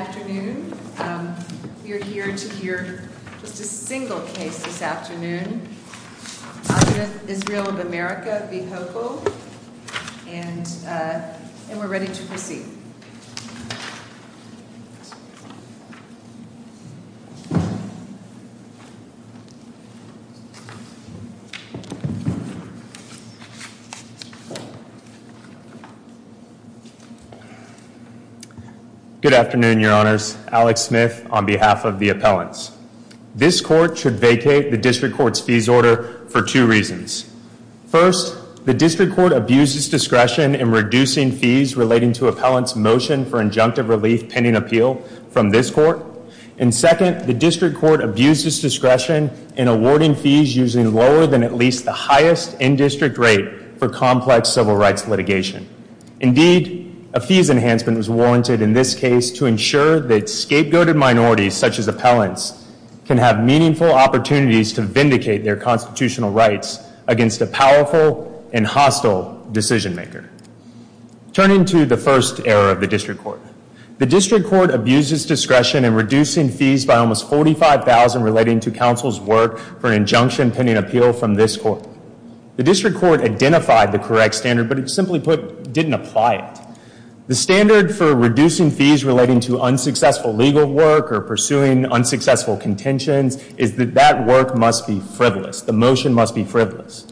Good afternoon. We are here to hear just a single case this afternoon. Adudath Israel of America v. Hochul. And we're ready to proceed. Good afternoon, your honors. Alex Smith on behalf of the appellants. This court should vacate the district court's fees order for two reasons. First, the district court abuses discretion in reducing fees relating to appellants' motion for injunctive relief pending appeal from this court. And second, the district court abuses discretion in awarding fees usually lower than at least the highest in-district rate for complex civil rights litigation. Indeed, a fees enhancement was warranted in this case to ensure that scapegoated minorities, such as appellants, can have meaningful opportunities to vindicate their constitutional rights against a powerful and hostile decision maker. Turning to the first error of the district court. The district court abuses discretion in reducing fees by almost $45,000 relating to counsel's work for an injunction pending appeal from this court. The district court identified the correct standard, but it simply didn't apply it. The standard for reducing fees relating to unsuccessful legal work or pursuing unsuccessful contentions is that that work must be frivolous. The motion must be frivolous.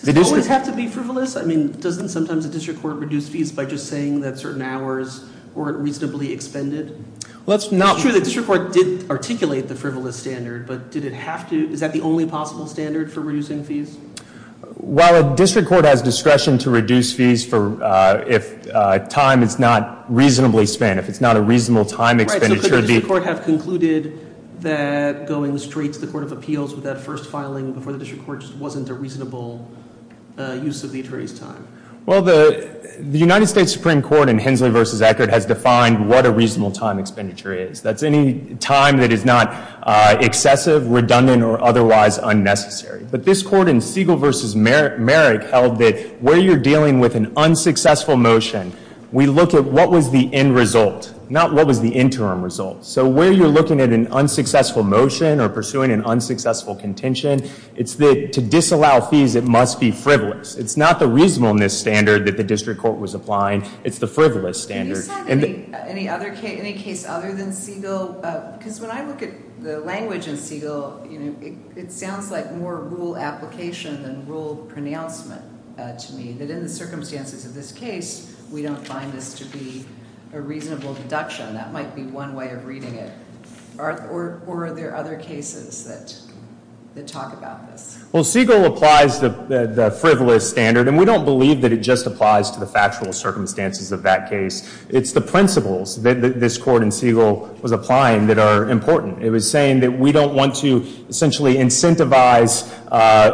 Does it always have to be frivolous? I mean, doesn't sometimes a district court reduce fees by just saying that certain hours weren't reasonably expended? It's true the district court did articulate the frivolous standard, but did it have to? Is that the only possible standard for reducing fees? While a district court has discretion to reduce fees if time is not reasonably spent, if it's not a reasonable time expenditure. Right, so could the district court have concluded that going straight to the court of appeals with that first filing before the district court just wasn't a reasonable use of the attorney's time? Well, the United States Supreme Court in Hensley v. Eckert has defined what a reasonable time expenditure is. That's any time that is not excessive, redundant, or otherwise unnecessary. But this court in Siegel v. Merrick held that where you're dealing with an unsuccessful motion, we look at what was the end result, not what was the interim result. So where you're looking at an unsuccessful motion or pursuing an unsuccessful contention, it's that to disallow fees, it must be frivolous. It's not the reasonableness standard that the district court was applying. It's the frivolous standard. Can you say any case other than Siegel? Because when I look at the language in Siegel, it sounds like more rule application than rule pronouncement to me, that in the circumstances of this case, we don't find this to be a reasonable deduction. That might be one way of reading it. Or are there other cases that talk about this? Well, Siegel applies the frivolous standard. And we don't believe that it just applies to the factual circumstances of that case. It's the principles that this court in Siegel was applying that are important. It was saying that we don't want to essentially incentivize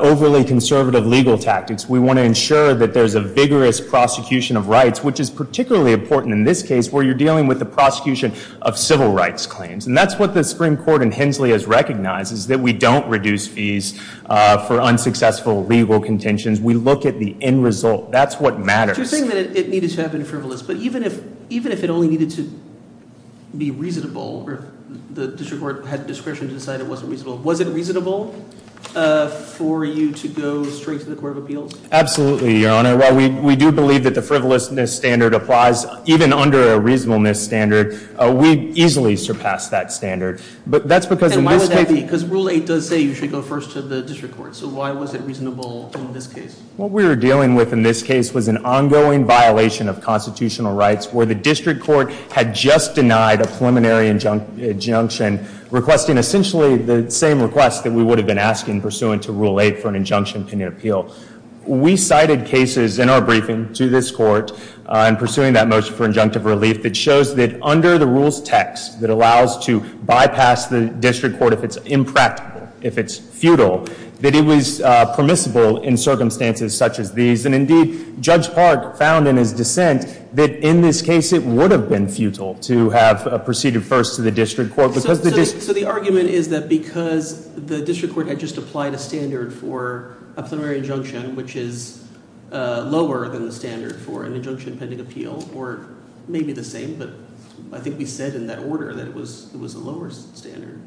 overly conservative legal tactics. We want to ensure that there's a vigorous prosecution of rights, which is particularly important in this case, where you're dealing with the prosecution of civil rights claims. And that's what the Supreme Court in Hensley has recognized, is that we don't reduce fees for unsuccessful legal contentions. We look at the end result. That's what matters. So you're saying that it needed to have been frivolous. But even if it only needed to be reasonable, or the district court had discretion to decide it wasn't reasonable, was it reasonable for you to go straight to the court of appeals? Absolutely, Your Honor. While we do believe that the frivolousness standard applies, even under a reasonableness standard, we easily surpass that standard. But that's because in this case— Then why would that be? Because Rule 8 does say you should go first to the district court. So why was it reasonable in this case? What we were dealing with in this case was an ongoing violation of constitutional rights where the district court had just denied a preliminary injunction, requesting essentially the same request that we would have been asking, pursuant to Rule 8 for an injunction pending appeal. We cited cases in our briefing to this court in pursuing that motion for injunctive relief that shows that under the rules text that allows to bypass the district court if it's impractical, if it's futile, that it was permissible in circumstances such as these. And indeed, Judge Park found in his dissent that in this case it would have been futile to have proceeded first to the district court because the district— So the argument is that because the district court had just applied a standard for a preliminary injunction, which is lower than the standard for an injunction pending appeal, or maybe the same, but I think we said in that order that it was a lower standard,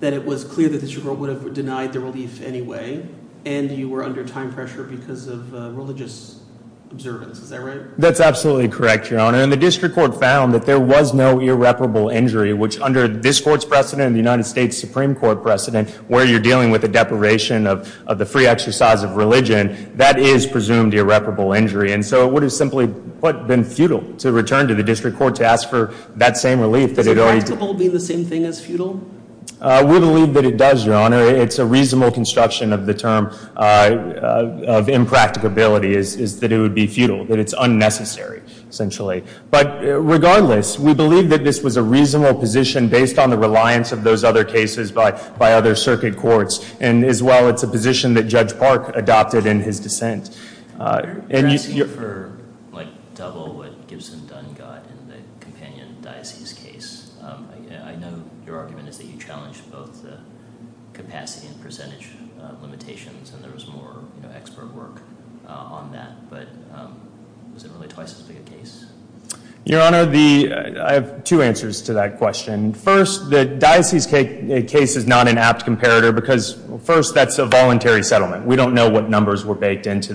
that it was clear that the district court would have denied the relief anyway, and you were under time pressure because of religious observance. Is that right? That's absolutely correct, Your Honor. And the district court found that there was no irreparable injury, which under this court's precedent and the United States Supreme Court precedent, where you're dealing with the deprivation of the free exercise of religion, that is presumed irreparable injury. And so it would have simply been futile to return to the district court to ask for that same relief. Is impractical being the same thing as futile? We believe that it does, Your Honor. It's a reasonable construction of the term of impracticability is that it would be futile, that it's unnecessary, essentially. But regardless, we believe that this was a reasonable position based on the reliance of those other cases by other circuit courts. And as well, it's a position that Judge Park adopted in his dissent. You're asking for double what Gibson Dunn got in the companion diocese case. I know your argument is that you challenged both the capacity and percentage limitations, and there was more expert work on that, but was it really twice as big a case? Your Honor, I have two answers to that question. First, the diocese case is not an apt comparator because, first, that's a voluntary settlement. We don't know what numbers were baked into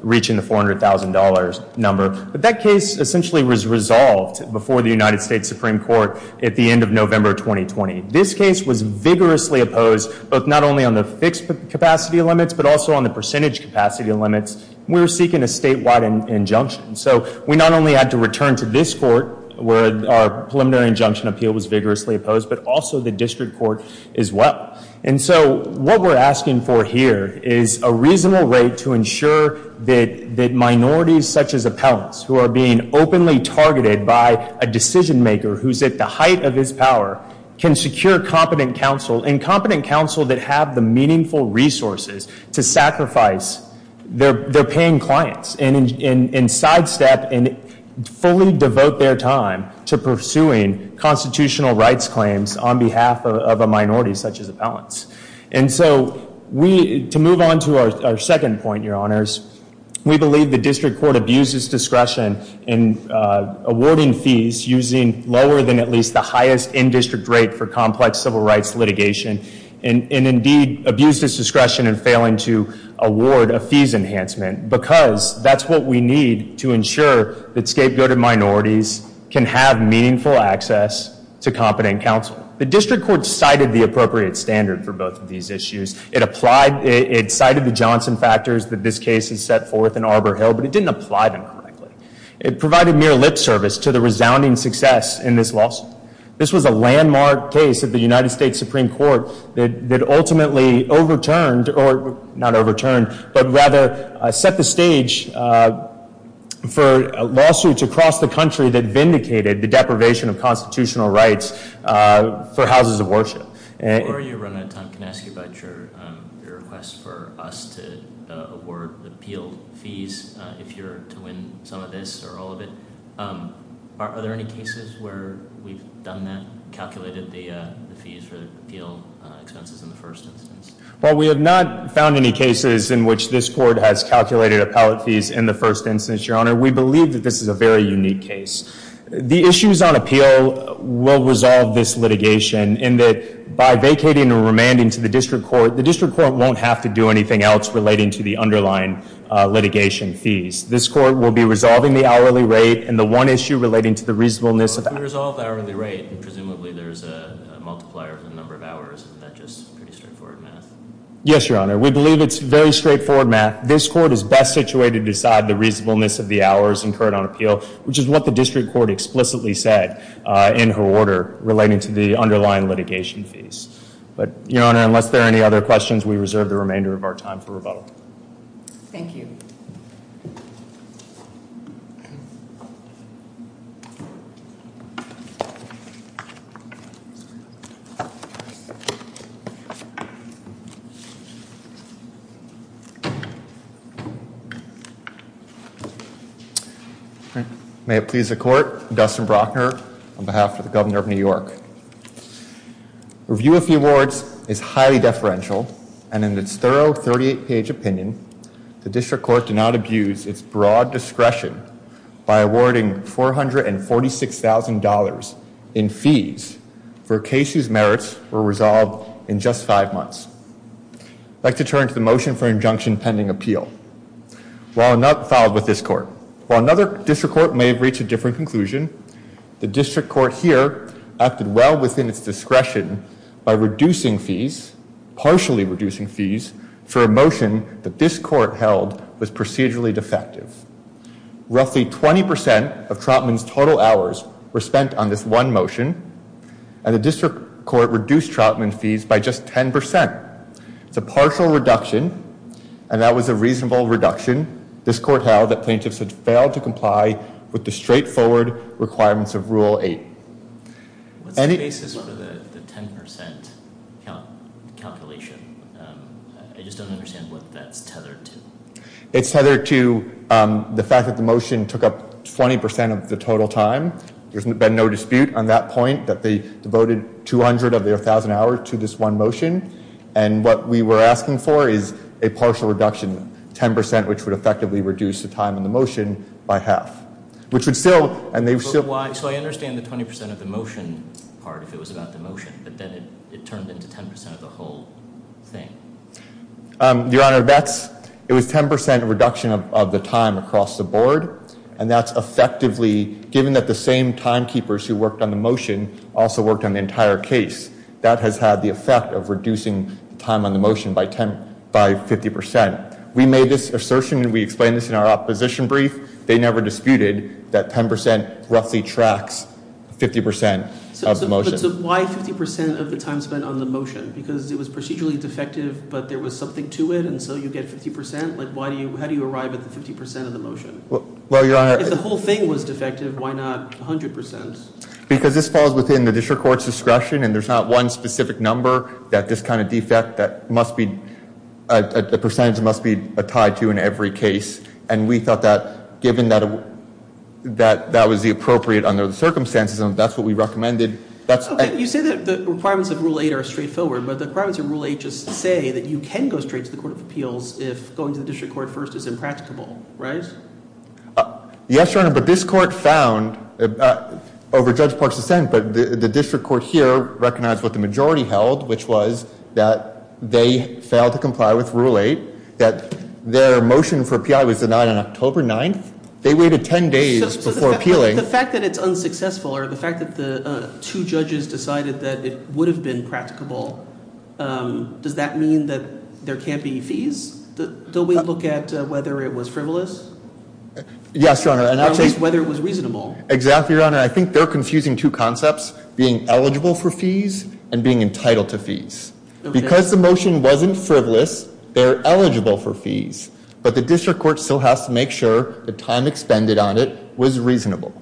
reaching the $400,000 number. But that case essentially was resolved before the United States Supreme Court at the end of November 2020. This case was vigorously opposed, both not only on the fixed capacity limits, but also on the percentage capacity limits. We're seeking a statewide injunction. So we not only had to return to this court where our preliminary injunction appeal was vigorously opposed, but also the district court as well. And so what we're asking for here is a reasonable rate to ensure that minorities such as appellants who are being openly targeted by a decision maker who's at the height of his power can secure competent counsel and competent counsel that have the meaningful resources to sacrifice their paying clients and sidestep and fully devote their time to pursuing constitutional rights claims on behalf of a minority such as appellants. And so to move on to our second point, Your Honors, we believe the district court abused its discretion in awarding fees using lower than at least the highest in-district rate for complex civil rights litigation and indeed abused its discretion in failing to award a fees enhancement because that's what we need to ensure that scapegoated minorities can have meaningful access to competent counsel. The district court cited the appropriate standard for both of these issues. It cited the Johnson factors that this case has set forth in Arbor Hill, but it didn't apply them correctly. It provided mere lip service to the resounding success in this lawsuit. This was a landmark case of the United States Supreme Court that ultimately overturned or not overturned, but rather set the stage for lawsuits across the country that vindicated the deprivation of constitutional rights for houses of worship. Before you run out of time, can I ask you about your request for us to award appeal fees if you're to win some of this or all of it? Are there any cases where we've done that, calculated the fees for the appeal expenses in the first instance? Well, we have not found any cases in which this court has calculated appellate fees in the first instance, Your Honor. We believe that this is a very unique case. The issues on appeal will resolve this litigation in that by vacating or remanding to the district court, the district court won't have to do anything else relating to the underlying litigation fees. This court will be resolving the hourly rate and the one issue relating to the reasonableness of the hourly rate. If we resolve the hourly rate, presumably there's a multiplier of the number of hours. Isn't that just pretty straightforward math? Yes, Your Honor. We believe it's very straightforward math. This court is best situated to decide the reasonableness of the hours incurred on appeal, which is what the district court explicitly said in her order relating to the underlying litigation fees. But, Your Honor, unless there are any other questions, we reserve the remainder of our time for rebuttal. Thank you. May it please the Court, I'm Dustin Brockner on behalf of the Governor of New York. Review of the awards is highly deferential, and in its thorough 38-page opinion, the district court did not abuse its broad discretion by awarding $446,000 in fees for a case whose merits were resolved in just five months. I'd like to turn to the motion for injunction pending appeal, while not filed with this court. While another district court may have reached a different conclusion, the district court here acted well within its discretion by reducing fees, partially reducing fees, for a motion that this court held was procedurally defective. Roughly 20% of Troutman's total hours were spent on this one motion, and the district court reduced Troutman's fees by just 10%. It's a partial reduction, and that was a reasonable reduction. This court held that plaintiffs had failed to comply with the straightforward requirements of Rule 8. What's the basis for the 10% calculation? I just don't understand what that's tethered to. It's tethered to the fact that the motion took up 20% of the total time. There's been no dispute on that point that they devoted 200 of their 1,000 hours to this one motion, and what we were asking for is a partial reduction, 10%, which would effectively reduce the time in the motion by half. So I understand the 20% of the motion part if it was about the motion, but then it turned into 10% of the whole thing. Your Honor, it was 10% reduction of the time across the board, and that's effectively, given that the same timekeepers who worked on the motion also worked on the entire case, that has had the effect of reducing the time on the motion by 50%. We made this assertion, and we explained this in our opposition brief. They never disputed that 10% roughly tracks 50% of the motion. So why 50% of the time spent on the motion? Because it was procedurally defective, but there was something to it, and so you get 50%? Like, how do you arrive at the 50% of the motion? Well, Your Honor— If the whole thing was defective, why not 100%? Because this falls within the district court's discretion, and there's not one specific number that this kind of defect must be— a percentage must be tied to in every case, and we thought that given that that was the appropriate under the circumstances, that's what we recommended. You say that the requirements of Rule 8 are straightforward, but the requirements of Rule 8 just say that you can go straight to the Court of Appeals if going to the district court first is impracticable, right? Yes, Your Honor, but this court found, over Judge Park's dissent, but the district court here recognized what the majority held, which was that they failed to comply with Rule 8, that their motion for P.I. was denied on October 9th? They waited 10 days before appealing. So the fact that it's unsuccessful, or the fact that the two judges decided that it would have been practicable, does that mean that there can't be fees? Don't we look at whether it was frivolous? Yes, Your Honor. At least whether it was reasonable. Exactly, Your Honor. I think they're confusing two concepts, being eligible for fees and being entitled to fees. Because the motion wasn't frivolous, they're eligible for fees, but the district court still has to make sure the time expended on it was reasonable.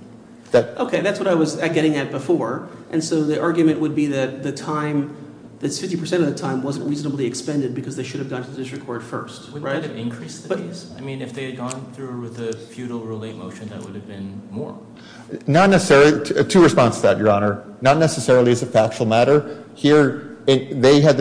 Okay, that's what I was getting at before, and so the argument would be that the time, that 50% of the time wasn't reasonably expended because they should have gone to the district court first. Wouldn't that have increased the fees? I mean, if they had gone through with the futile Rule 8 motion, that would have been more. Not necessarily. Two responses to that, Your Honor. Not necessarily as a factual matter. Here, they had,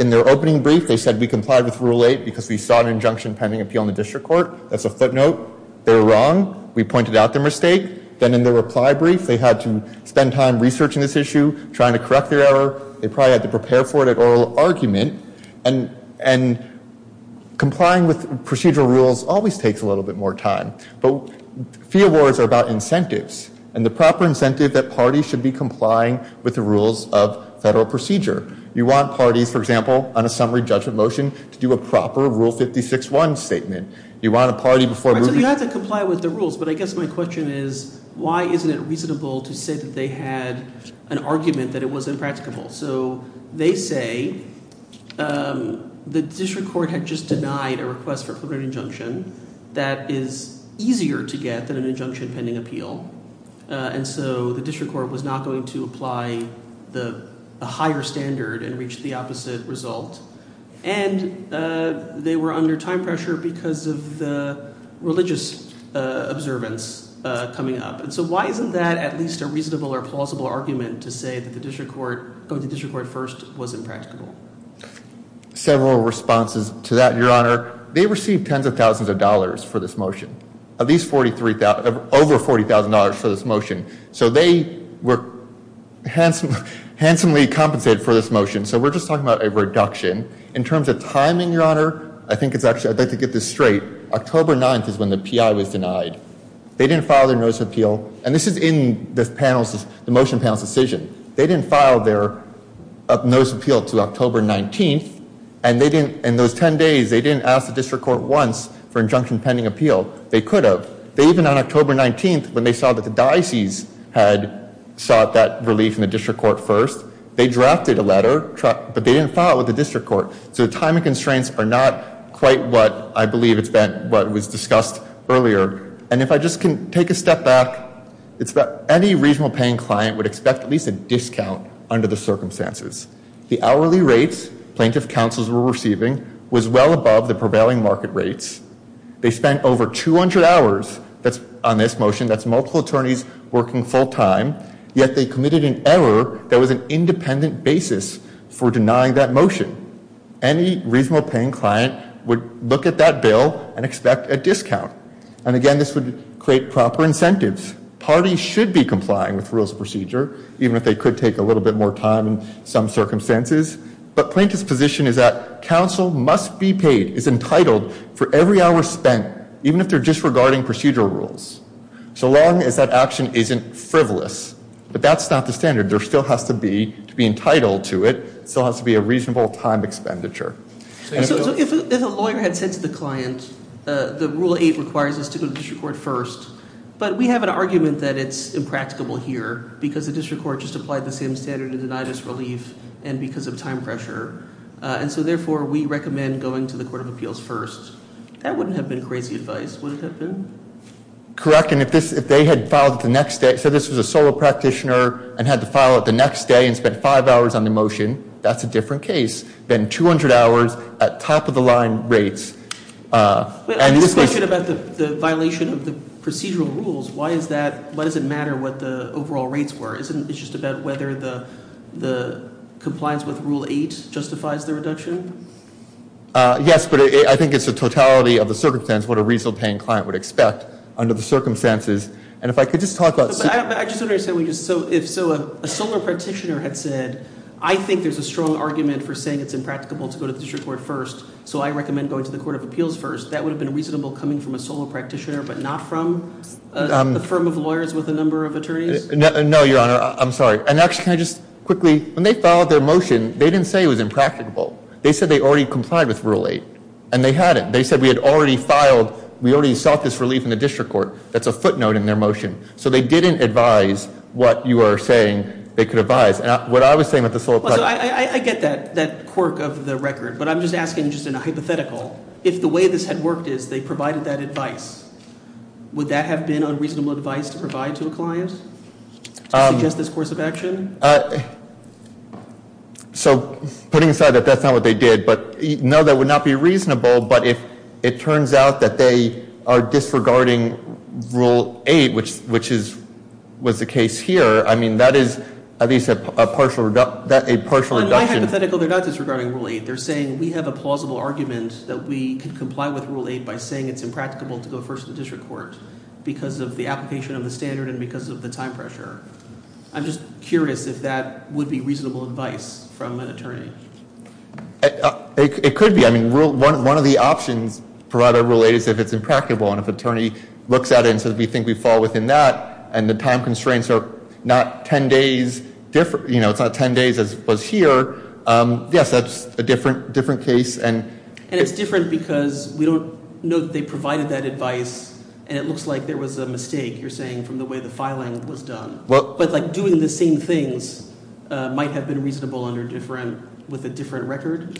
in their opening brief, they said, we complied with Rule 8 because we saw an injunction pending appeal in the district court. That's a footnote. They were wrong. We pointed out their mistake. Then in their reply brief, they had to spend time researching this issue, trying to correct their error. They probably had to prepare for it at oral argument, and complying with procedural rules always takes a little bit more time. But fee awards are about incentives, and the proper incentive that parties should be complying with the rules of federal procedure. You want parties, for example, on a summary judgment motion, to do a proper Rule 56-1 statement. You want a party before— So you have to comply with the rules, but I guess my question is, why isn't it reasonable to say that they had an argument that it was impracticable? So they say the district court had just denied a request for a preliminary injunction that is easier to get than an injunction pending appeal, and so the district court was not going to apply a higher standard and reach the opposite result. And they were under time pressure because of the religious observance coming up. So why isn't that at least a reasonable or plausible argument to say that going to district court first was impracticable? Several responses to that, Your Honor. They received tens of thousands of dollars for this motion, at least over $40,000 for this motion. So they were handsomely compensated for this motion. So we're just talking about a reduction. In terms of timing, Your Honor, I think it's actually—I'd like to get this straight. October 9th is when the PI was denied. They didn't file their notice of appeal. And this is in the motion panel's decision. They didn't file their notice of appeal to October 19th, and in those 10 days, they didn't ask the district court once for injunction pending appeal. They could have. Even on October 19th, when they saw that the diocese had sought that relief in the district court first, they drafted a letter, but they didn't file it with the district court. So the timing constraints are not quite what I believe it's been—what was discussed earlier. And if I just can take a step back, any reasonable paying client would expect at least a discount under the circumstances. The hourly rates plaintiff counsels were receiving was well above the prevailing market rates. They spent over 200 hours on this motion. That's multiple attorneys working full time. Yet they committed an error that was an independent basis for denying that motion. Any reasonable paying client would look at that bill and expect a discount. And again, this would create proper incentives. Parties should be complying with rules of procedure, even if they could take a little bit more time in some circumstances. But plaintiff's position is that counsel must be paid, is entitled, for every hour spent, even if they're disregarding procedural rules. So long as that action isn't frivolous. But that's not the standard. There still has to be—to be entitled to it, there still has to be a reasonable time expenditure. So if a lawyer had said to the client, the Rule 8 requires us to go to the district court first, but we have an argument that it's impracticable here because the district court just applied the same standard to deny this relief and because of time pressure. And so therefore, we recommend going to the court of appeals first. That wouldn't have been crazy advice, would it have been? Correct. And if this—if they had filed it the next day, said this was a solo practitioner and had to file it the next day and spent five hours on the motion, that's a different case than 200 hours at top-of-the-line rates. But this question about the violation of the procedural rules, why is that—why does it matter what the overall rates were? Isn't it just about whether the compliance with Rule 8 justifies the reduction? Yes, but I think it's the totality of the circumstance, what a reasonable-paying client would expect under the circumstances. And if I could just talk about— I just want to say, if so, a solo practitioner had said, I think there's a strong argument for saying it's impracticable to go to the district court first, so I recommend going to the court of appeals first, that would have been reasonable coming from a solo practitioner but not from a firm of lawyers with a number of attorneys? No, Your Honor, I'm sorry. And actually, can I just quickly—when they filed their motion, they didn't say it was impracticable. They said they already complied with Rule 8, and they hadn't. They said we had already filed—we already sought this relief in the district court. That's a footnote in their motion. So they didn't advise what you are saying they could advise. What I was saying with the solo— I get that quirk of the record, but I'm just asking just in a hypothetical. If the way this had worked is they provided that advice, would that have been unreasonable advice to provide to a client to suggest this course of action? So putting aside that that's not what they did, but no, that would not be reasonable. But if it turns out that they are disregarding Rule 8, which was the case here, I mean that is at least a partial reduction. On my hypothetical, they're not disregarding Rule 8. They're saying we have a plausible argument that we can comply with Rule 8 by saying it's impracticable to go first to the district court because of the application of the standard and because of the time pressure. I'm just curious if that would be reasonable advice from an attorney. It could be. I mean one of the options provided by Rule 8 is if it's impracticable and if an attorney looks at it and says we think we fall within that and the time constraints are not 10 days—you know, it's not 10 days as was here. Yes, that's a different case. And it's different because we don't know that they provided that advice, and it looks like there was a mistake, you're saying, from the way the filing was done. But like doing the same things might have been reasonable with a different record?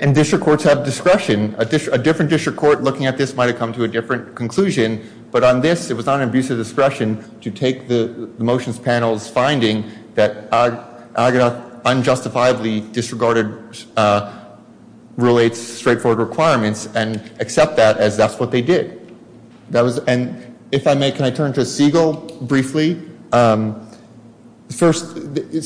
And district courts have discretion. A different district court looking at this might have come to a different conclusion, but on this it was not an abuse of discretion to take the motion's panel's finding that Agadath unjustifiably disregarded Rule 8's straightforward requirements and accept that as that's what they did. And if I may, can I turn to Siegel briefly? First,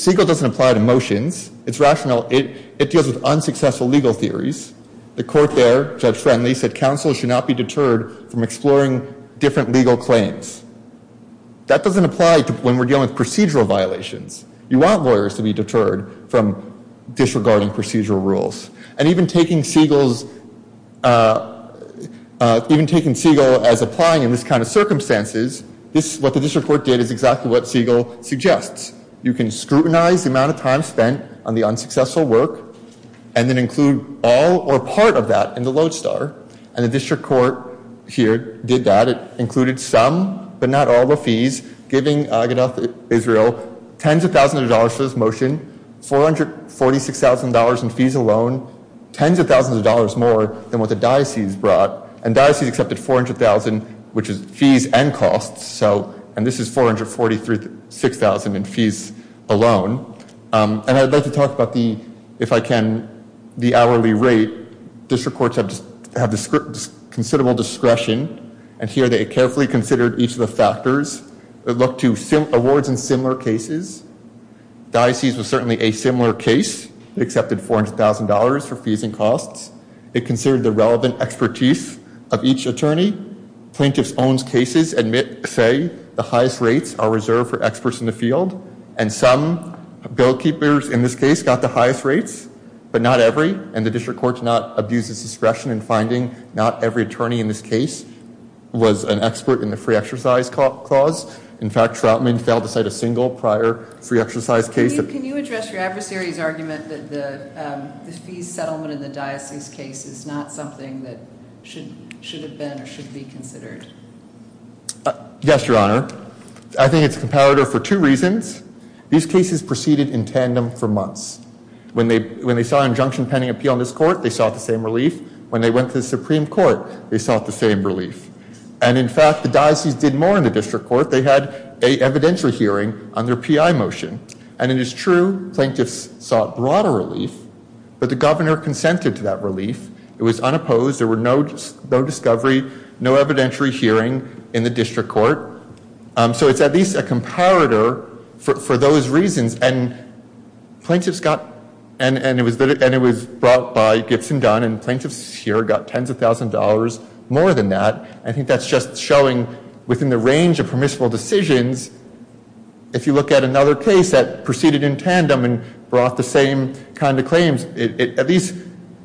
Siegel doesn't apply to motions. It's rational. It deals with unsuccessful legal theories. The court there, Judge Friendly, said counsel should not be deterred from exploring different legal claims. That doesn't apply when we're dealing with procedural violations. You want lawyers to be deterred from disregarding procedural rules. And even taking Siegel as applying in this kind of circumstances, what the district court did is exactly what Siegel suggests. You can scrutinize the amount of time spent on the unsuccessful work and then include all or part of that in the lodestar, and the district court here did that. It included some but not all the fees, giving Agadath Israel tens of thousands of dollars for this motion, $446,000 in fees alone, tens of thousands of dollars more than what the diocese brought, and diocese accepted $400,000, which is fees and costs, and this is $446,000 in fees alone. And I'd like to talk about the, if I can, the hourly rate. District courts have considerable discretion, and here they carefully considered each of the factors. They looked to awards in similar cases. Diocese was certainly a similar case. It accepted $400,000 for fees and costs. It considered the relevant expertise of each attorney. Plaintiffs' own cases admit, say, the highest rates are reserved for experts in the field, and some bill keepers in this case got the highest rates, but not every, and the district court did not abuse its discretion in finding not every attorney in this case was an expert in the free exercise clause. In fact, Troutman failed to cite a single prior free exercise case. Can you address your adversary's argument that the fees settlement in the diocese case is not something that should have been or should be considered? Yes, Your Honor. I think it's comparative for two reasons. These cases proceeded in tandem for months. When they saw an injunction pending appeal in this court, they sought the same relief. When they went to the Supreme Court, they sought the same relief. And, in fact, the diocese did more in the district court. They had an evidentiary hearing on their PI motion. And it is true plaintiffs sought broader relief, but the governor consented to that relief. It was unopposed. There were no discovery, no evidentiary hearing in the district court. So it's at least a comparator for those reasons, and plaintiffs got, and it was brought by Gibson Dunn, and plaintiffs here got tens of thousands of dollars more than that. I think that's just showing within the range of permissible decisions, if you look at another case that proceeded in tandem and brought the same kind of claims, it at least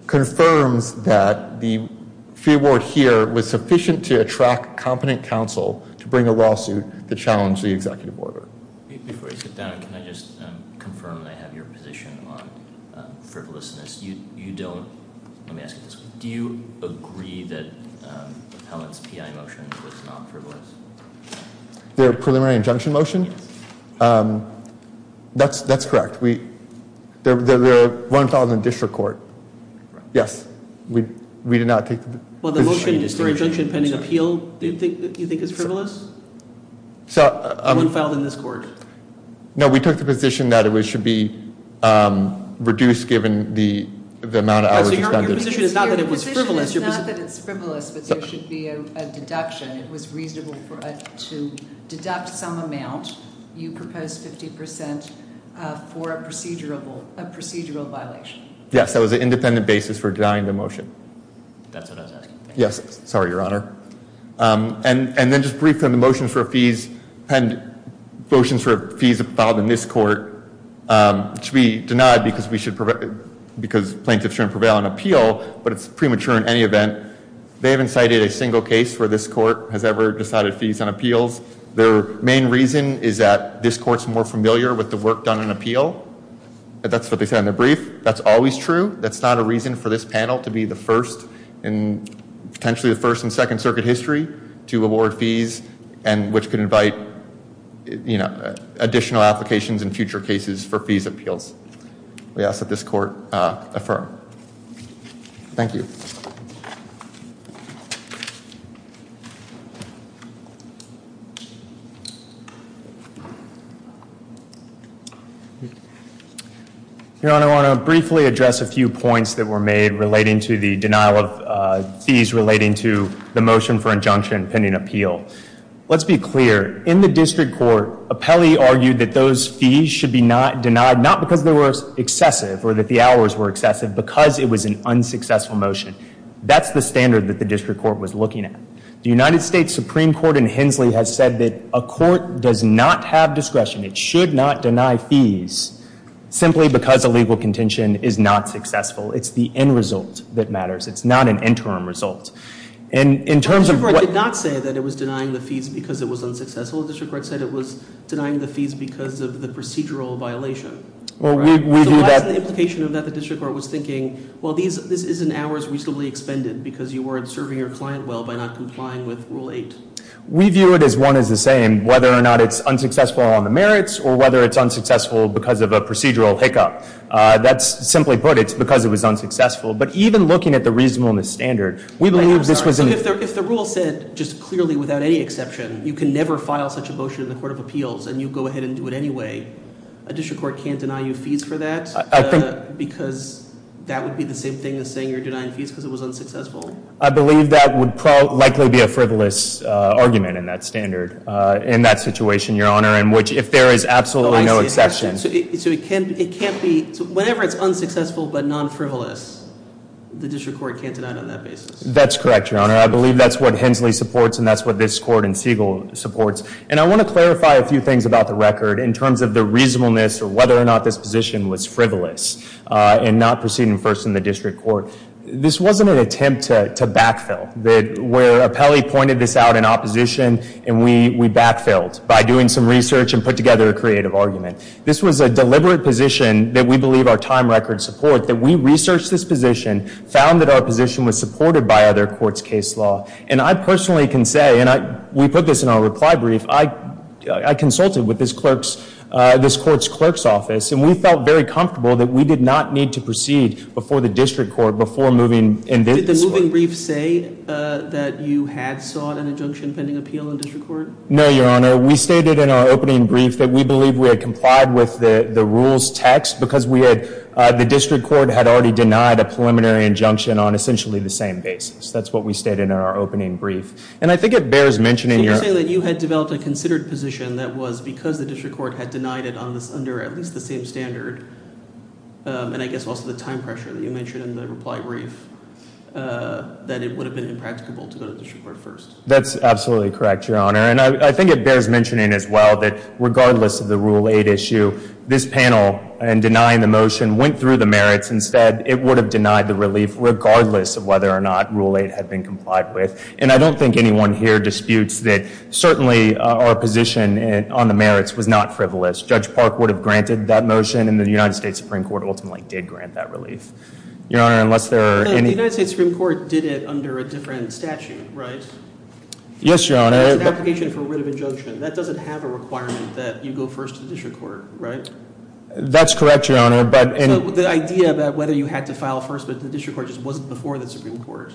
confirms that the fee award here was sufficient to attract competent counsel to bring a lawsuit to challenge the executive order. Before you sit down, can I just confirm that I have your position on frivolousness? You don't. Let me ask you this one. Do you agree that Appellant's PI motion was not frivolous? Their preliminary injunction motion? Yes. That's correct. There were one filed in the district court. Correct. Yes. We did not take the position. Well, the motion, the injunction pending appeal, do you think is frivolous? One filed in this court. No, we took the position that it should be reduced given the amount of hours expended. Your position is not that it was frivolous. Your position is not that it's frivolous, but there should be a deduction. It was reasonable to deduct some amount. You proposed 50% for a procedural violation. Yes, that was an independent basis for denying the motion. That's what I was asking. Yes. Sorry, Your Honor. And then just briefly on the motions for fees. Motions for fees filed in this court should be denied because plaintiffs shouldn't prevail on appeal, but it's premature in any event. They haven't cited a single case where this court has ever decided fees on appeals. Their main reason is that this court is more familiar with the work done on appeal. That's what they said in their brief. That's always true. That's not a reason for this panel to be the first in potentially the first in Second Circuit history to award fees and which could invite additional applications in future cases for fees appeals. We ask that this court affirm. Thank you. Thank you. Your Honor, I want to briefly address a few points that were made relating to the denial of fees relating to the motion for injunction pending appeal. Let's be clear. In the district court, Apelli argued that those fees should be denied not because they were excessive or that the hours were excessive because it was an unsuccessful motion. That's the standard that the district court was looking at. The United States Supreme Court in Hensley has said that a court does not have discretion. It should not deny fees simply because a legal contention is not successful. It's the end result that matters. It's not an interim result. The district court did not say that it was denying the fees because it was unsuccessful. The district court said it was denying the fees because of the procedural violation. So what's the implication of that? The district court was thinking, well, this is an hour's reasonably expended because you weren't serving your client well by not complying with Rule 8. We view it as one is the same whether or not it's unsuccessful on the merits or whether it's unsuccessful because of a procedural hiccup. That's simply put. It's because it was unsuccessful. But even looking at the reasonableness standard, we believe this was an— If the rule said just clearly without any exception you can never file such a motion in the Court of Appeals and you go ahead and do it anyway, a district court can't deny you fees for that because that would be the same thing as saying you're denying fees because it was unsuccessful? I believe that would likely be a frivolous argument in that standard, in that situation, Your Honor, in which if there is absolutely no exception— So it can't be—whenever it's unsuccessful but non-frivolous, the district court can't deny it on that basis? That's correct, Your Honor. I believe that's what Hensley supports and that's what this court and Siegel supports. And I want to clarify a few things about the record in terms of the reasonableness or whether or not this position was frivolous in not proceeding first in the district court. This wasn't an attempt to backfill. Where Apelli pointed this out in opposition and we backfilled by doing some research and put together a creative argument. This was a deliberate position that we believe our time record supports that we researched this position, found that our position was supported by other courts' case law. And I personally can say—and we put this in our reply brief—I consulted with this court's clerk's office and we felt very comfortable that we did not need to proceed before the district court before moving in this way. Did the moving brief say that you had sought an injunction pending appeal in district court? No, Your Honor. We stated in our opening brief that we believe we had complied with the rules text because the district court had already denied a preliminary injunction on essentially the same basis. That's what we stated in our opening brief. And I think it bears mentioning— So you're saying that you had developed a considered position that was because the district court had denied it under at least the same standard and I guess also the time pressure that you mentioned in the reply brief, that it would have been impracticable to go to district court first. That's absolutely correct, Your Honor. And I think it bears mentioning as well that regardless of the Rule 8 issue, this panel in denying the motion went through the merits. Instead, it would have denied the relief regardless of whether or not Rule 8 had been complied with. And I don't think anyone here disputes that certainly our position on the merits was not frivolous. Judge Park would have granted that motion and the United States Supreme Court ultimately did grant that relief. Your Honor, unless there are any— Yes, Your Honor. It's an application for writ of injunction. That doesn't have a requirement that you go first to the district court, right? That's correct, Your Honor, but— So the idea about whether you had to file first but the district court just wasn't before the Supreme Court.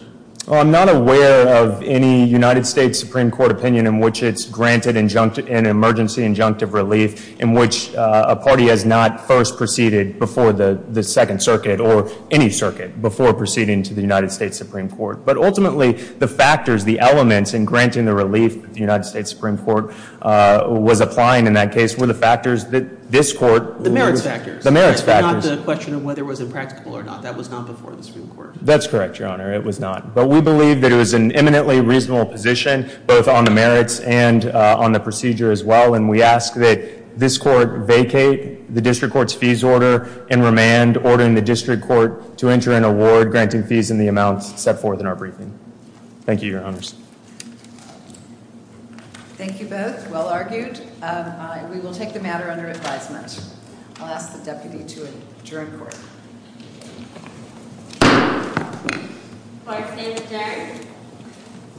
Well, I'm not aware of any United States Supreme Court opinion in which it's granted an emergency injunctive relief in which a party has not first proceeded before the Second Circuit or any circuit before proceeding to the United States Supreme Court. But ultimately, the factors, the elements in granting the relief that the United States Supreme Court was applying in that case were the factors that this Court— The merits factors. The merits factors. Not the question of whether it was impractical or not. That was not before the Supreme Court. That's correct, Your Honor. It was not. But we believe that it was an eminently reasonable position both on the merits and on the procedure as well. And we ask that this Court vacate the district court's fees order and remand ordering the district court to enter an award granting fees in the amount set forth in our briefing. Thank you, Your Honors. Thank you both. Well argued. We will take the matter under advisement. I'll ask the deputy to adjourn court. Court is adjourned.